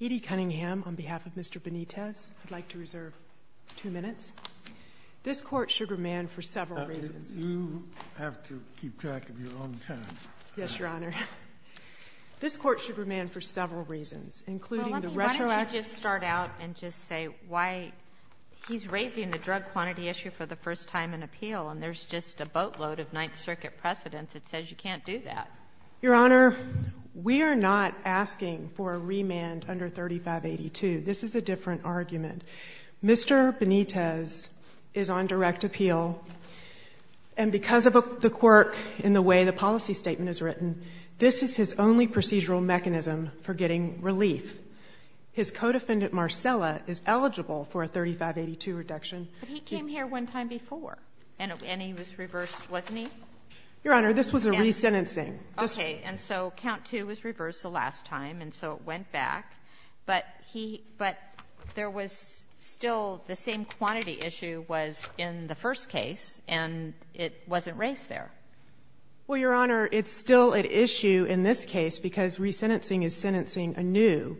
Edie Cunningham, on behalf of Mr. Benitez, I'd like to reserve two minutes. This Court should remand for several reasons. You have to keep track of your own time. Yes, Your Honor. This Court should remand for several reasons, including the retroactive— Well, let me just start out and just say why he's raising the drug quantity issue for the first time in appeal, and there's just a boatload of Ninth Circuit precedent that says you can't do that. Your Honor, we are not asking for a remand under 3582. This is a different argument. Mr. Benitez is on direct appeal, and because of the quirk in the way the policy statement is written, this is his only procedural mechanism for getting relief. His co-defendant, Marcella, is eligible for a 3582 reduction. But he came here one time before, and he was reversed, wasn't he? Your Honor, this was a resentencing. Okay. And so count two was reversed the last time, and so it went back. But he — but there was still the same quantity issue was in the first case, and it wasn't raised there. Well, Your Honor, it's still at issue in this case because resentencing is sentencing anew,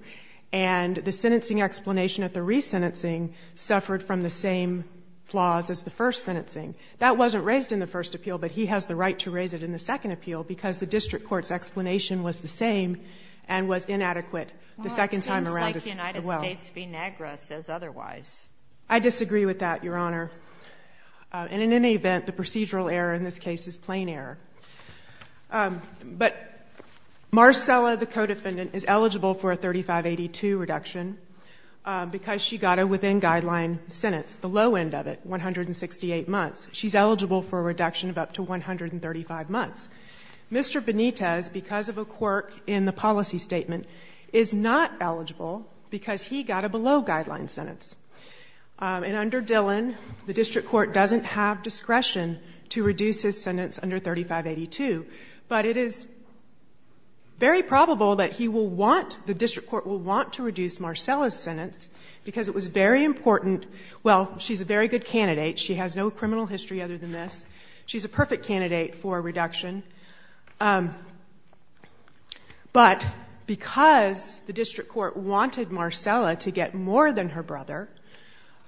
and the sentencing explanation at the resentencing suffered from the same flaws as the first sentencing. That wasn't raised in the first appeal, but he has the right to raise it in the second appeal because the district court's explanation was the same and was inadequate the second time around as well. Well, it seems like the United States v. NAGRA says otherwise. I disagree with that, Your Honor, and in any event, the procedural error in this case is plain error. But Marcella, the co-defendant, is eligible for a 3582 reduction because she got a within-guideline sentence, the low end of it, 168 months. She's eligible for a reduction of up to 135 months. Mr. Benitez, because of a quirk in the policy statement, is not eligible because he got a below-guideline sentence. And under Dillon, the district court doesn't have discretion to reduce his sentence under 3582, but it is very probable that he will want, the district court will want to reduce Marcella's sentence because it was very important. Well, she's a very good candidate. She has no criminal history other than this. She's a perfect candidate for a reduction. But because the district court wanted Marcella to get more than her brother,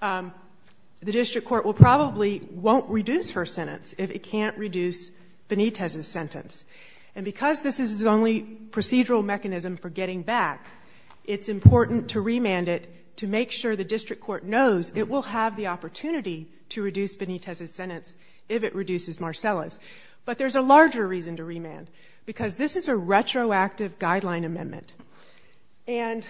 the district court will probably won't reduce her sentence if it can't reduce Benitez's sentence. And because this is the only procedural mechanism for getting back, it's important to remand it to make sure the district court knows it will have the opportunity to reduce Benitez's sentence if it reduces Marcella's. But there's a larger reason to remand, because this is a retroactive guideline amendment. And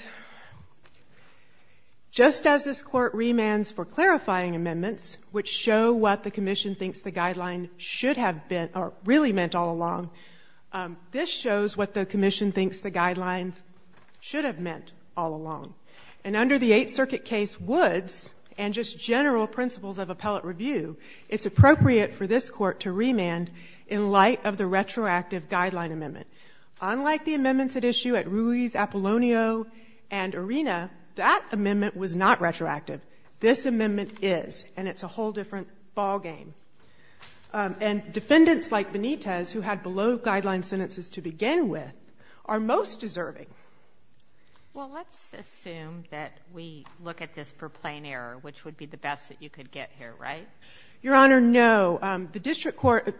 just as this court remands for clarifying amendments, which show what the commission thinks the guideline should have been or really meant all along, this shows what the commission thinks the guidelines should have meant all along. And under the Eighth Circuit case Woods, and just general principles of appellate review, it's appropriate for this court to remand in light of the retroactive guideline amendment. Unlike the amendments at issue at Ruiz, Apollonio, and Arena, that amendment was not retroactive. This amendment is, and it's a whole different ball game. And defendants like Benitez, who had below guideline sentences to begin with, are most deserving. Well, let's assume that we look at this for plain error, which would be the best that you could get here, right? Your Honor, no. The district court,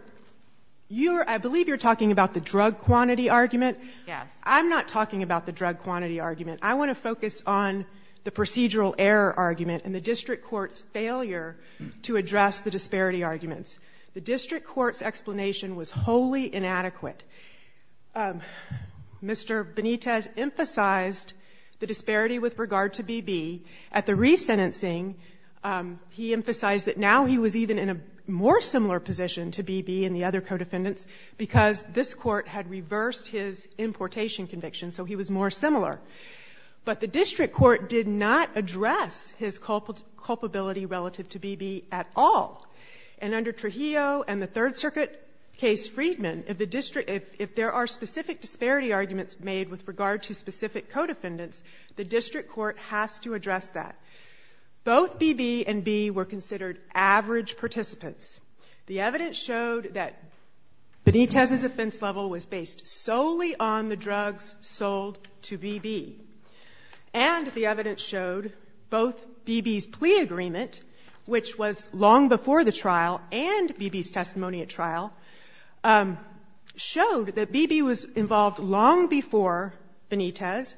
you're, I believe you're talking about the drug quantity argument? Yes. I'm not talking about the drug quantity argument. I want to focus on the procedural error argument and the district court's failure to address the disparity arguments. The district court's explanation was wholly inadequate. Mr. Benitez emphasized the disparity with regard to BB. At the resentencing, he emphasized that now he was even in a more similar position to BB and the other co-defendants because this court had reversed his importation conviction, so he was more similar. But the district court did not address his culpability relative to BB at all. And under Trujillo and the Third Circuit case Freedman, if there are specific disparity arguments made with regard to specific co-defendants, the district court has to address that. Both BB and B were considered average participants. The evidence showed that Benitez's offense level was based solely on the drugs sold to for the trial and BB's testimony at trial showed that BB was involved long before Benitez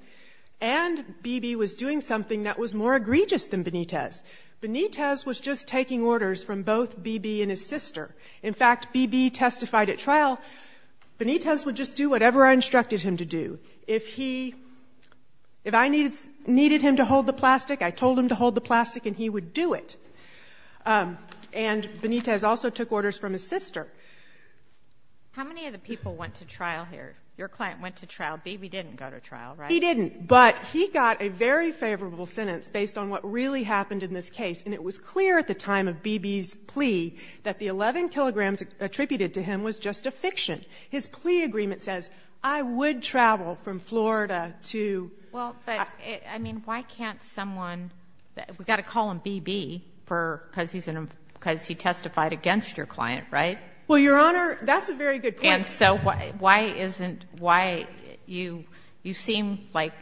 and BB was doing something that was more egregious than Benitez. Benitez was just taking orders from both BB and his sister. In fact, BB testified at trial, Benitez would just do whatever I instructed him to do. If he, if I needed him to hold the plastic, I told him to hold the plastic and he would do it. And Benitez also took orders from his sister. How many of the people went to trial here? Your client went to trial. BB didn't go to trial, right? He didn't, but he got a very favorable sentence based on what really happened in this case and it was clear at the time of BB's plea that the 11 kilograms attributed to him was just a fiction. His plea agreement says, I would travel from Florida to — Well, but I mean, why can't someone, we've got to call him BB for, because he's an, because he testified against your client, right? Well, Your Honor, that's a very good point. And so why isn't, why you, you seem like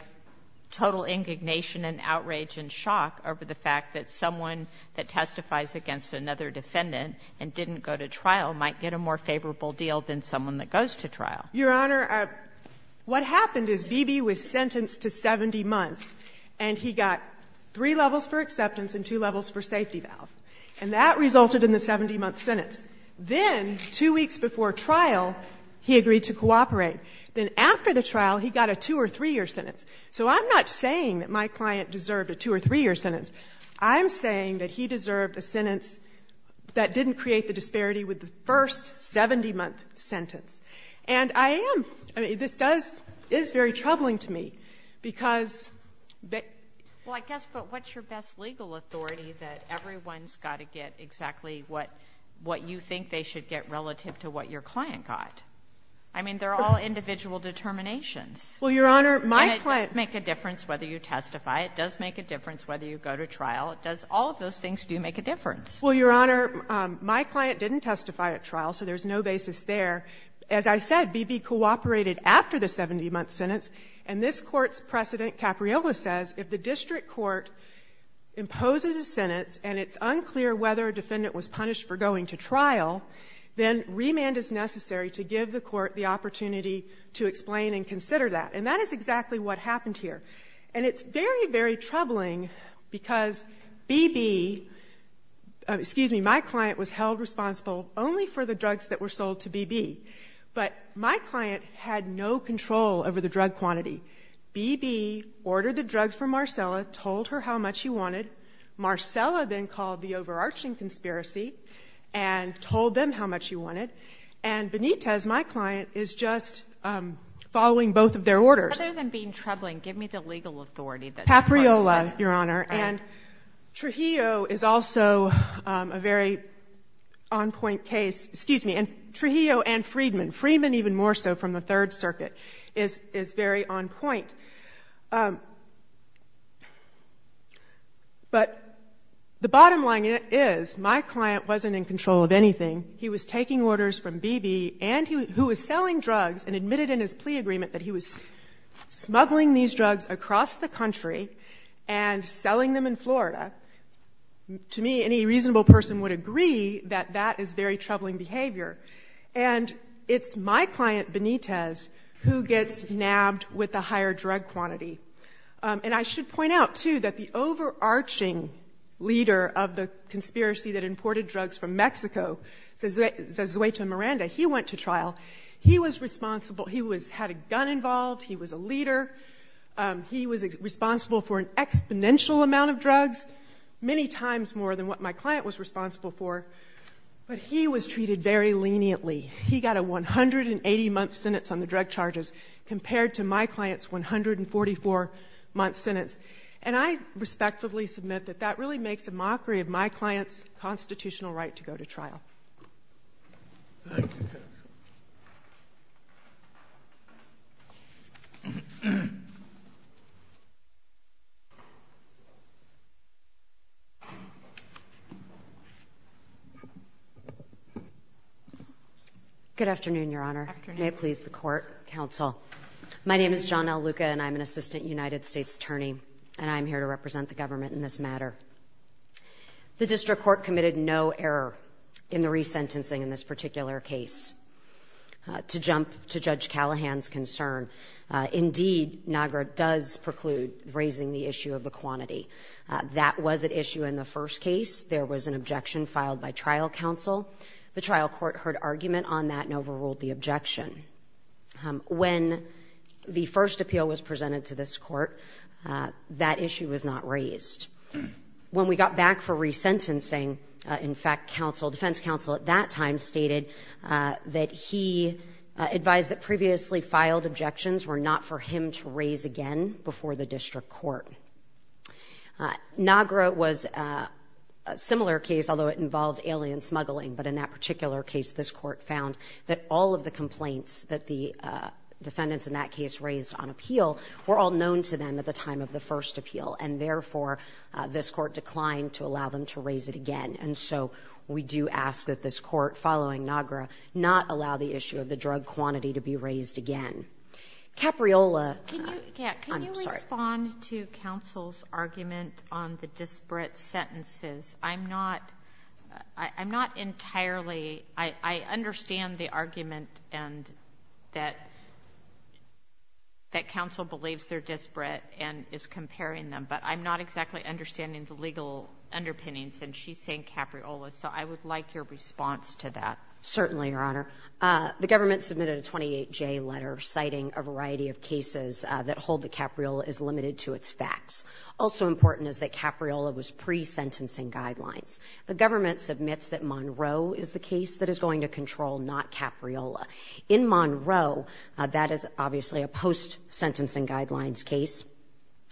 total indignation and outrage and shock over the fact that someone that testifies against another defendant and didn't go to trial might get a more favorable deal than someone that goes to trial. Your Honor, what happened is BB was sentenced to 70 months and he got three levels for acceptance and two levels for safety valve. And that resulted in the 70-month sentence. Then, two weeks before trial, he agreed to cooperate. Then after the trial, he got a two- or three-year sentence. So I'm not saying that my client deserved a two- or three-year sentence. I'm saying that he deserved a sentence that didn't create the disparity with the first 70-month sentence. And I am, I mean, this does, is very troubling to me because that. Well, I guess, but what's your best legal authority that everyone's got to get exactly what, what you think they should get relative to what your client got? I mean, they're all individual determinations. Well, Your Honor, my client. And it does make a difference whether you testify. It does make a difference whether you go to trial. It does, all of those things do make a difference. Well, Your Honor, my client didn't testify at trial, so there's no basis there. As I said, BB cooperated after the 70-month sentence. And this court's precedent, Capriola says, if the district court imposes a sentence and it's unclear whether a defendant was punished for going to trial, then remand is necessary to give the court the opportunity to explain and consider that. And that is exactly what happened here. And it's very, very troubling because BB, excuse me, my client was held responsible only for the drugs that were sold to BB. But my client had no control over the drug quantity. BB ordered the drugs from Marcella, told her how much she wanted. Marcella then called the overarching conspiracy and told them how much she wanted. And Benitez, my client, is just following both of their orders. Other than being troubling, give me the legal authority that— Capriola, Your Honor. And Trujillo is also a very on-point case. Excuse me. And Trujillo and Freedman, Freedman even more so from the Third Circuit, is very on point. But the bottom line is my client wasn't in control of anything. He was taking orders from BB, who was selling drugs and admitted in his plea agreement that he was smuggling these drugs across the country and selling them in Florida. To me, any reasonable person would agree that that is very troubling behavior. And it's my client, Benitez, who gets nabbed with the higher drug quantity. And I should point out, too, that the overarching leader of the conspiracy that imported drugs from Mexico, Zezueta Miranda, he went to trial. He was responsible. He had a gun involved. He was a leader. He was responsible for an exponential amount of drugs, many times more than what my client was responsible for. But he was treated very leniently. He got a 180-month sentence on the drug charges compared to my client's 144-month sentence. And I respectively submit that that really makes a mockery of my client's constitutional right to go to trial. Thank you. Good afternoon, Your Honor. Afternoon. May it please the court, counsel. My name is John L. Luca, and I'm an assistant United States attorney, and I'm here to represent the government in this matter. The district court committed no error in the resentencing in this particular case. To jump to Judge Callahan's concern, indeed, NAGRA does preclude raising the issue of the quantity. That was at issue in the first case. There was an objection filed by trial counsel. The trial court heard argument on that and overruled the objection. When the first appeal was presented to this court, that issue was not raised. When we got back for resentencing, in fact, defense counsel at that time stated that he advised that previously filed objections were not for him to raise again before the district court. NAGRA was a similar case, although it involved alien smuggling. But in that particular case, this court found that all of the complaints that the defendants in that case raised on appeal were all known to them at the time of the first appeal. And therefore, this court declined to allow them to raise it again. And so we do ask that this court, following NAGRA, not allow the issue of the drug quantity to be raised again. Capriola? I'm sorry. Can you respond to counsel's argument on the disparate sentences? I'm not entirely—I understand the argument that counsel believes they're disparate and is comparing them, but I'm not exactly understanding the legal underpinnings, and she's saying Capriola. So I would like your response to that. Certainly, Your Honor. The government submitted a 28J letter citing a variety of cases that hold that Capriola is limited to its facts. Also important is that Capriola was pre-sentencing guidelines. The government submits that Monroe is the case that is going to control, not Capriola. In Monroe, that is obviously a post-sentencing guidelines case.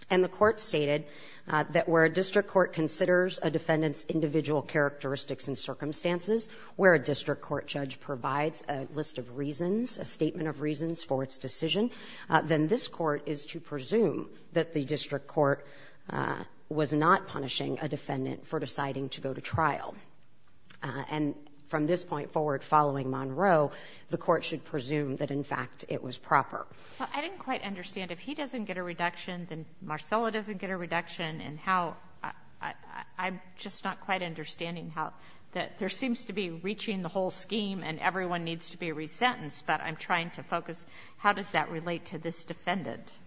And the court stated that where a district court considers a defendant's individual characteristics and circumstances, where a district court judge provides a list of reasons, a statement of reasons for its decision, then this court is to presume that the district court was not punishing a defendant for deciding to go to trial. And from this point forward, following Monroe, the court should presume that, in fact, it was proper. Well, I didn't quite understand. If he doesn't get a reduction, then Marcella doesn't get a reduction. And how — I'm just not quite understanding how — that there seems to be reaching the whole scheme and everyone needs to be resentenced, but I'm trying to focus, how does that relate to this defendant?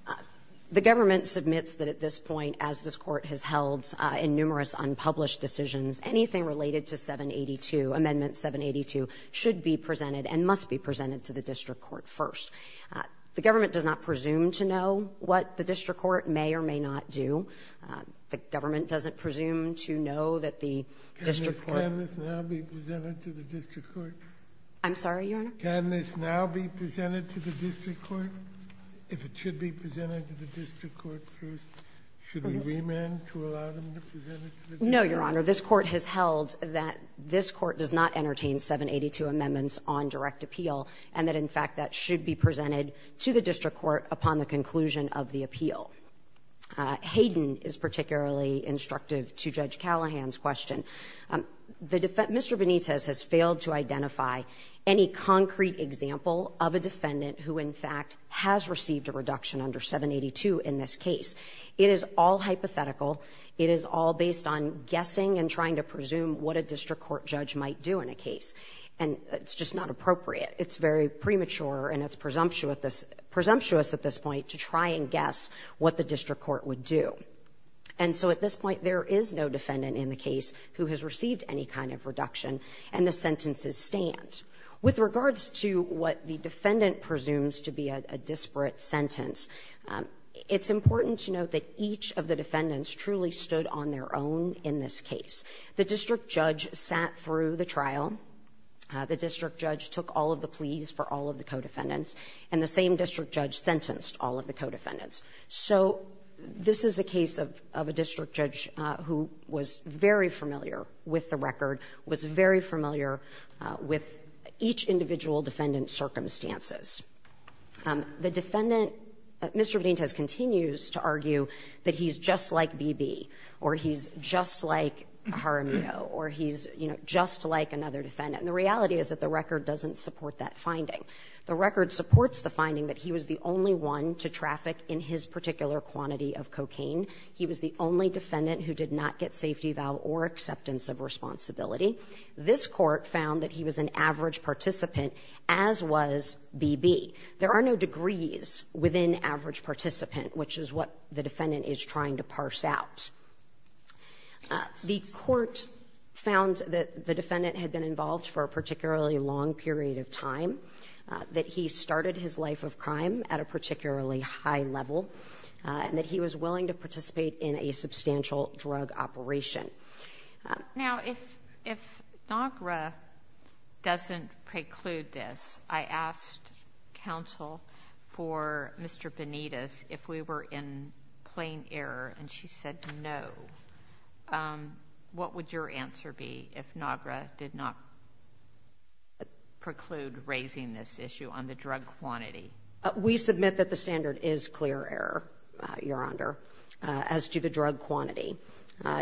The government submits that at this point, as this court has held in numerous unpublished decisions, anything related to 782, Amendment 782, should be presented and must be presented to the district court first. The government does not presume to know what the district court may or may not do. The government doesn't presume to know that the district court — Can this now be presented to the district court? I'm sorry, Your Honor? Can this now be presented to the district court? If it should be presented to the district court first, should we remand to allow them to present it to the district court? No, Your Honor. This court has held that this court does not entertain 782 amendments on direct appeal and that, in fact, that should be presented to the district court upon the conclusion of the appeal. Hayden is particularly instructive to Judge Callahan's question. Mr. Benitez has failed to identify any concrete example of a defendant who, in fact, has received a reduction under 782 in this case. It is all hypothetical. It is all based on guessing and trying to presume what a district court judge might do in a case. And it's just not appropriate. It's very premature and it's presumptuous at this point to try and guess what the district court would do. And so at this point, there is no defendant in the case who has received any kind of reduction, and the sentences stand. With regards to what the defendant presumes to be a disparate sentence, it's important to note that each of the defendants truly stood on their own in this case. The district judge sat through the trial. The district judge took all of the pleas for all of the co-defendants, and the same district judge sentenced all of the co-defendants. So this is a case of a district judge who was very familiar with the record, was very familiar with each individual defendant's circumstances. The defendant, Mr. Benitez continues to argue that he's just like BB, or he's just like Jaramillo, or he's just like another defendant. And the reality is that the record doesn't support that finding. The record supports the finding that he was the only one to traffic in his particular quantity of cocaine. He was the only defendant who did not get safety, vow, or acceptance of responsibility. This court found that he was an average participant, as was BB. There are no degrees within average participant, which is what the defendant is trying to parse out. The court found that the defendant had been involved for a particularly long period of time, that he started his life of crime at a particularly high level, and that he was willing to participate in a substantial drug operation. Now, if NAGRA doesn't preclude this, I asked counsel for Mr. Benitez if we were in plain error, and she said no. What would your answer be if NAGRA did not preclude raising this issue on the drug quantity? We submit that the standard is clear error, Your Honor, as to the drug quantity.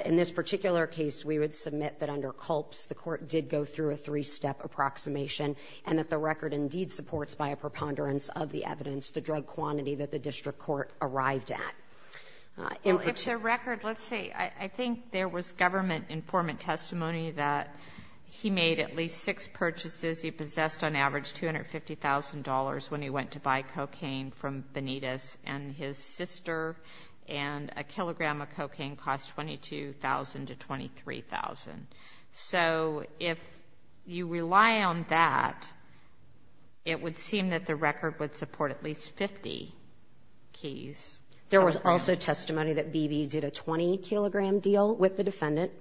In this particular case, we would submit that under CULPS, the court did go through a three-step approximation, and that the record indeed supports, by a preponderance of the evidence, the drug quantity that the district court arrived at. It's a record. Let's see. I think there was government informant testimony that he made at least six purchases. He possessed, on average, $250,000 when he went to buy cocaine from Benitez and his sister, and a kilogram of cocaine cost $22,000 to $23,000. So if you rely on that, it would seem that the record would support at least 50 keys. There was also testimony that BB did a 20-kilogram deal with the defendant.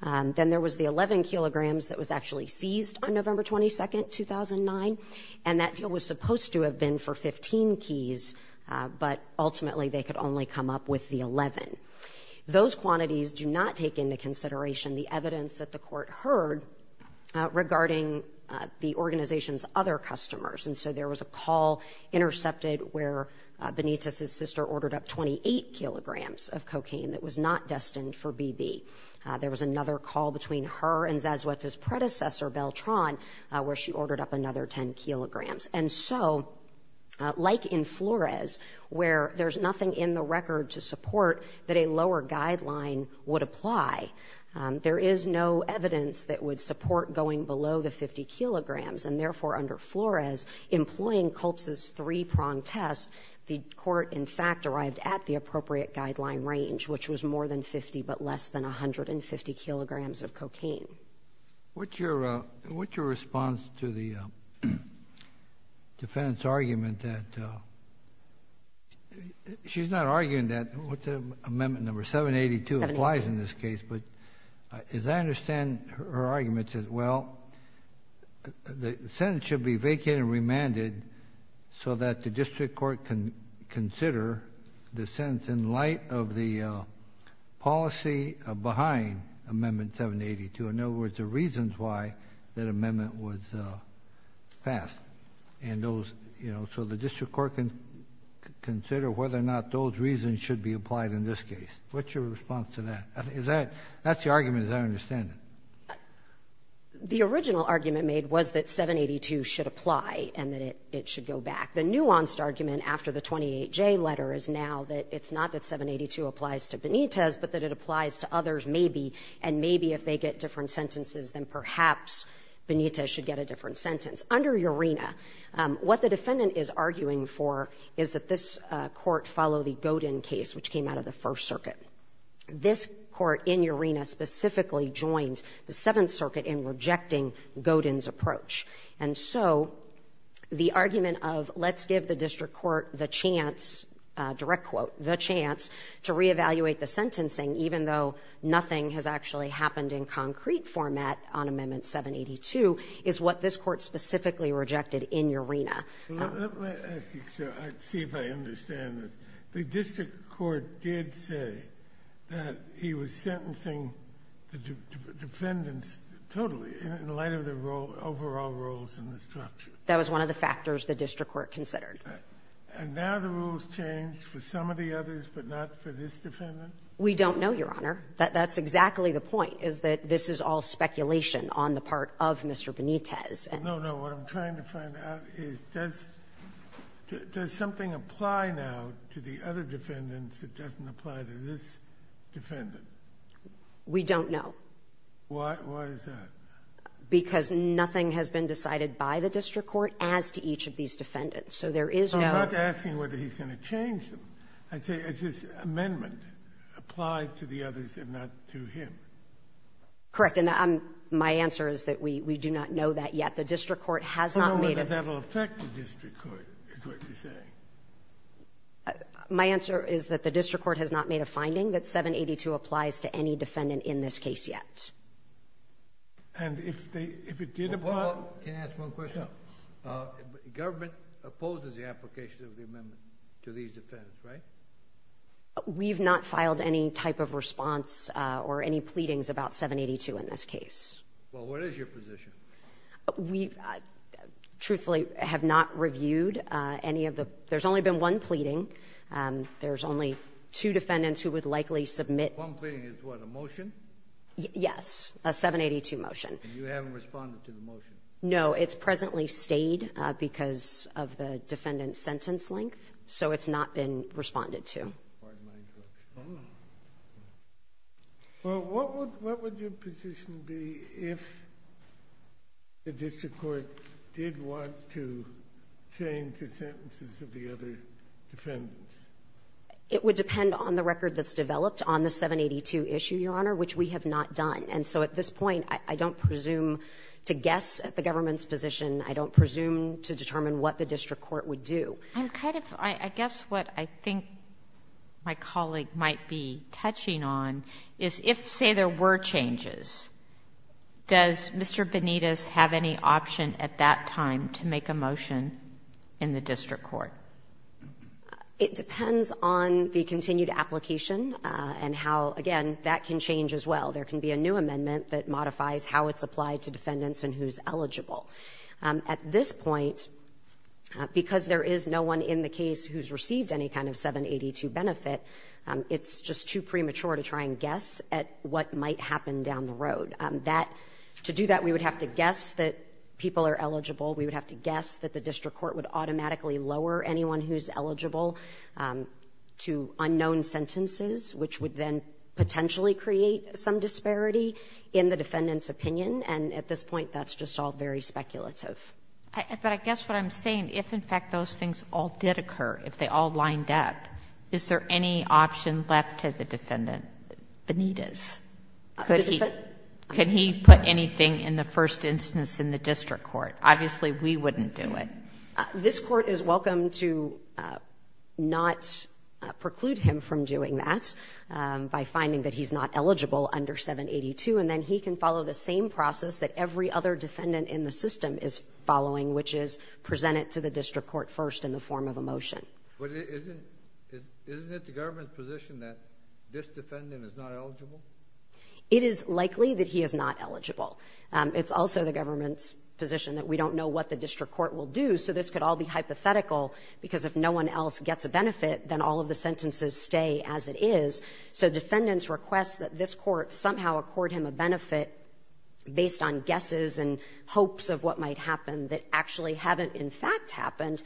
Then there was the 11 kilograms that was actually seized on November 22nd, 2009, and that deal was supposed to have been for 15 keys, but ultimately they could only come up with the 11. Those quantities do not take into consideration the evidence that the court heard regarding the organization's other customers. There was a call intercepted where Benitez's sister ordered up 28 kilograms of cocaine that was not destined for BB. There was another call between her and Zazueta's predecessor, Beltran, where she ordered up another 10 kilograms. Like in Flores, where there's nothing in the record to support that a lower guideline would apply, there is no evidence that would support going below the 50 kilograms, and therefore under Flores, employing Culp's three-pronged test, the court, in fact, arrived at the appropriate guideline range, which was more than 50, but less than 150 kilograms of cocaine. What's your response to the defendant's argument that she's not arguing that what's the amendment number? 782 applies in this case. As I understand her argument, it says, well, the sentence should be vacated and remanded so that the district court can consider the sentence in light of the policy behind Amendment 782. In other words, the reasons why that amendment was passed, so the district court can consider whether or not those reasons should be applied in this case. What's your response to that? That's the argument, as I understand it. The original argument made was that 782 should apply and that it should go back. The nuanced argument after the 28J letter is now that it's not that 782 applies to Benitez, but that it applies to others maybe, and maybe if they get different sentences, then perhaps Benitez should get a different sentence. Under Urena, what the defendant is arguing for is that this court follow the Godin case, which came out of the First Circuit. This court in Urena specifically joined the Seventh Circuit in rejecting Godin's approach. And so the argument of let's give the district court the chance, direct quote, the chance to reevaluate the sentencing, even though nothing has actually happened in concrete format on Amendment 782, is what this court specifically rejected in Urena. Let me see if I understand this. The district court did say that he was sentencing the defendants totally in light of the overall rules and the structure. That was one of the factors the district court considered. And now the rules changed for some of the others, but not for this defendant? We don't know, Your Honor. That's exactly the point, is that this is all speculation on the part of Mr. Benitez. No, no. What I'm trying to find out is does something apply now to the other defendants that doesn't apply to this defendant? We don't know. Why is that? Because nothing has been decided by the district court as to each of these defendants. So there is no... I'm not asking whether he's going to change them. I say, is this amendment applied to the others and not to him? Correct. My answer is that we do not know that yet. The district court has not made a... No, but that'll affect the district court, is what you're saying. My answer is that the district court has not made a finding that 782 applies to any defendant in this case yet. And if it did apply... Well, can I ask one question? Yeah. Government opposes the application of the amendment to these defendants, right? We've not filed any type of response or any pleadings about 782 in this case. Well, what is your position? We truthfully have not reviewed any of the... There's only been one pleading. There's only two defendants who would likely submit... One pleading is what, a motion? Yes, a 782 motion. You haven't responded to the motion? No, it's presently stayed because of the defendant's sentence length. So it's not been responded to. Well, what would your position be if the district court did want to change the sentences of the other defendants? It would depend on the record that's developed on the 782 issue, Your Honor, which we have not done. And so at this point, I don't presume to guess at the government's position. I don't presume to determine what the district court would do. I guess what I think my colleague might be touching on is if, say, there were changes, does Mr. Benitez have any option at that time to make a motion in the district court? It depends on the continued application and how, again, that can change as well. There can be a new amendment that modifies how it's applied to defendants and who's eligible. At this point, because there is no one in the case who's received any kind of 782 benefit, it's just too premature to try and guess at what might happen down the road. To do that, we would have to guess that people are eligible. We would have to guess that the district court would automatically lower anyone who's eligible to unknown sentences, which would then potentially create some disparity in the defendant's opinion. And at this point, that's just all very speculative. But I guess what I'm saying, if, in fact, those things all did occur, if they all lined up, is there any option left to the defendant, Benitez? Could he put anything in the first instance in the district court? Obviously, we wouldn't do it. This Court is welcome to not preclude him from doing that by finding that he's not eligible under 782. And then he can follow the same process that every other defendant in the system is following, which is present it to the district court first in the form of a motion. But isn't it the government's position that this defendant is not eligible? It is likely that he is not eligible. It's also the government's position that we don't know what the district court will do. So this could all be hypothetical, because if no one else gets a benefit, then all of the sentences stay as it is. So defendants' requests that this Court somehow accord him a benefit based on guesses and hopes of what might happen that actually haven't, in fact, happened,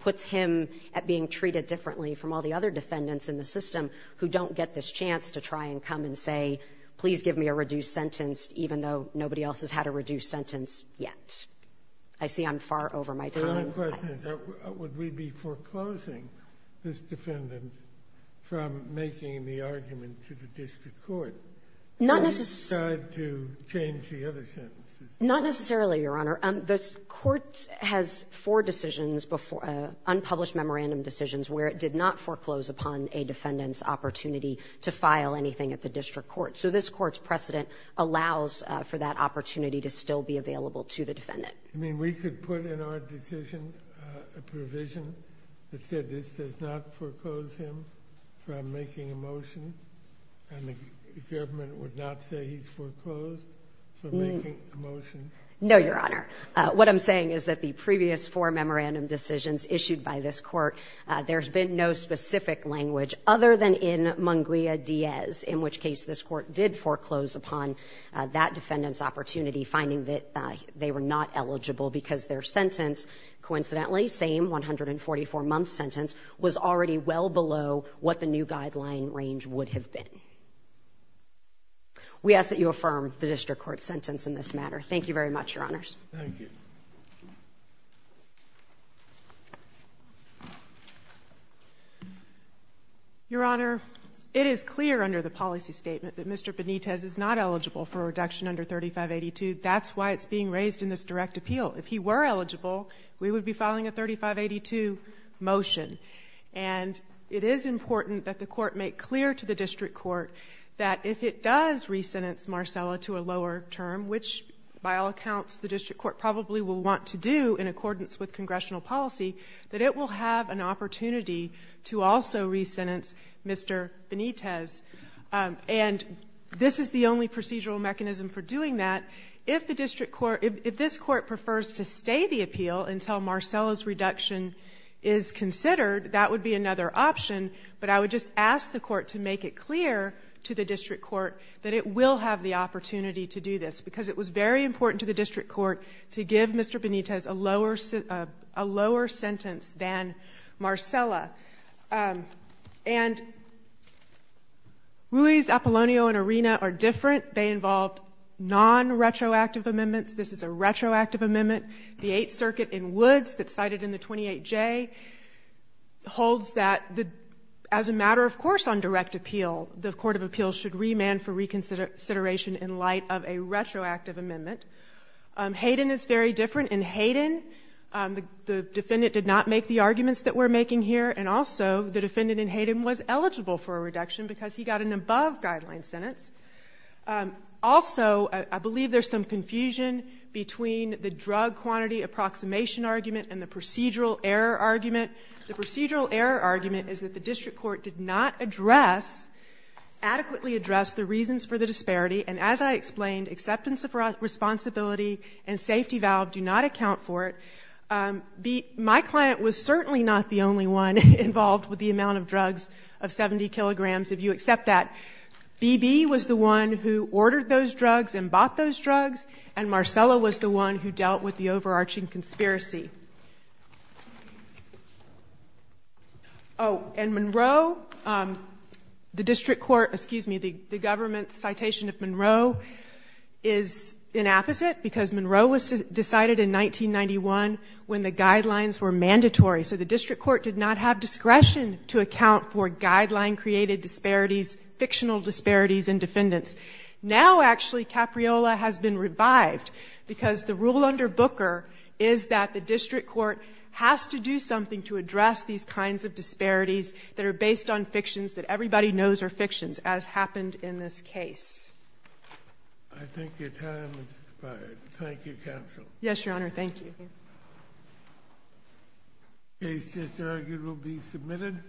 puts him at being treated differently from all the other defendants in the system who don't get this chance to try and come and say, please give me a reduced sentence, even though nobody else has had a reduced sentence yet. I see I'm far over my time. My question is, would we be foreclosing this defendant from making the argument to the district court? Not necessarily, Your Honor. This Court has four decisions, unpublished memorandum decisions, where it did not foreclose upon a defendant's opportunity to file anything at the district court. So this Court's precedent allows for that opportunity to still be available to the defendant. You mean we could put in our decision a provision that said, this does not foreclose him from making a motion, and the government would not say he's foreclosed from making a motion? No, Your Honor. What I'm saying is that the previous four memorandum decisions issued by this Court, there's been no specific language other than in Munguia Diaz, in which case this Court did foreclose upon that defendant's opportunity, finding that they were not eligible because their sentence, coincidentally, same 144-month sentence, was already well below what the new guideline range would have been. We ask that you affirm the district court sentence in this matter. Thank you very much, Your Honors. Thank you. Your Honor, it is clear under the policy statement that Mr. Benitez is not eligible for a reduction under 3582. That's why it's being raised in this direct appeal. If he were eligible, we would be filing a 3582 motion. And it is important that the Court make clear to the district court that if it does re-sentence Marcella to a lower term, which by all accounts the district court probably will want to do in accordance with congressional policy, that it will have an opportunity to also re-sentence Mr. Benitez. And this is the only procedural mechanism for doing that. If this Court prefers to stay the appeal until Marcella's reduction is considered, that would be another option. But I would just ask the Court to make it clear to the district court that it will have the opportunity to do this, because it was very important to the district court to give Mr. Benitez a lower sentence than Marcella. And Ruiz, Apollonio, and Arena are different. They involved non-retroactive amendments. This is a retroactive amendment. The Eighth Circuit in Woods that's cited in the 28J holds that as a matter of course on direct appeal, the Court of Appeals should remand for reconsideration in light of a retroactive amendment. Hayden is very different. In Hayden, the defendant did not make the arguments that we're making here. The defendant in Hayden was eligible for a reduction because he got an above-guideline sentence. Also, I believe there's some confusion between the drug quantity approximation argument and the procedural error argument. The procedural error argument is that the district court did not adequately address the reasons for the disparity. And as I explained, acceptance of responsibility and safety valve do not account for it. B, my client was certainly not the only one involved with the amount of drugs of 70 kilograms. If you accept that, B.B. was the one who ordered those drugs and bought those drugs, and Marcella was the one who dealt with the overarching conspiracy. Oh, and Monroe, the district court, excuse me, the government's citation of Monroe is inapposite because Monroe was decided in 1991 when the guidelines were mandatory. So the district court did not have discretion to account for guideline-created disparities, fictional disparities in defendants. Now, actually, Capriola has been revived because the rule under Booker is that the district court has to do something to address these kinds of disparities that are based on fictions that everybody knows are fictions, as happened in this case. I think your time has expired. Thank you, counsel. Yes, Your Honor. Thank you. Case just argued will be submitted.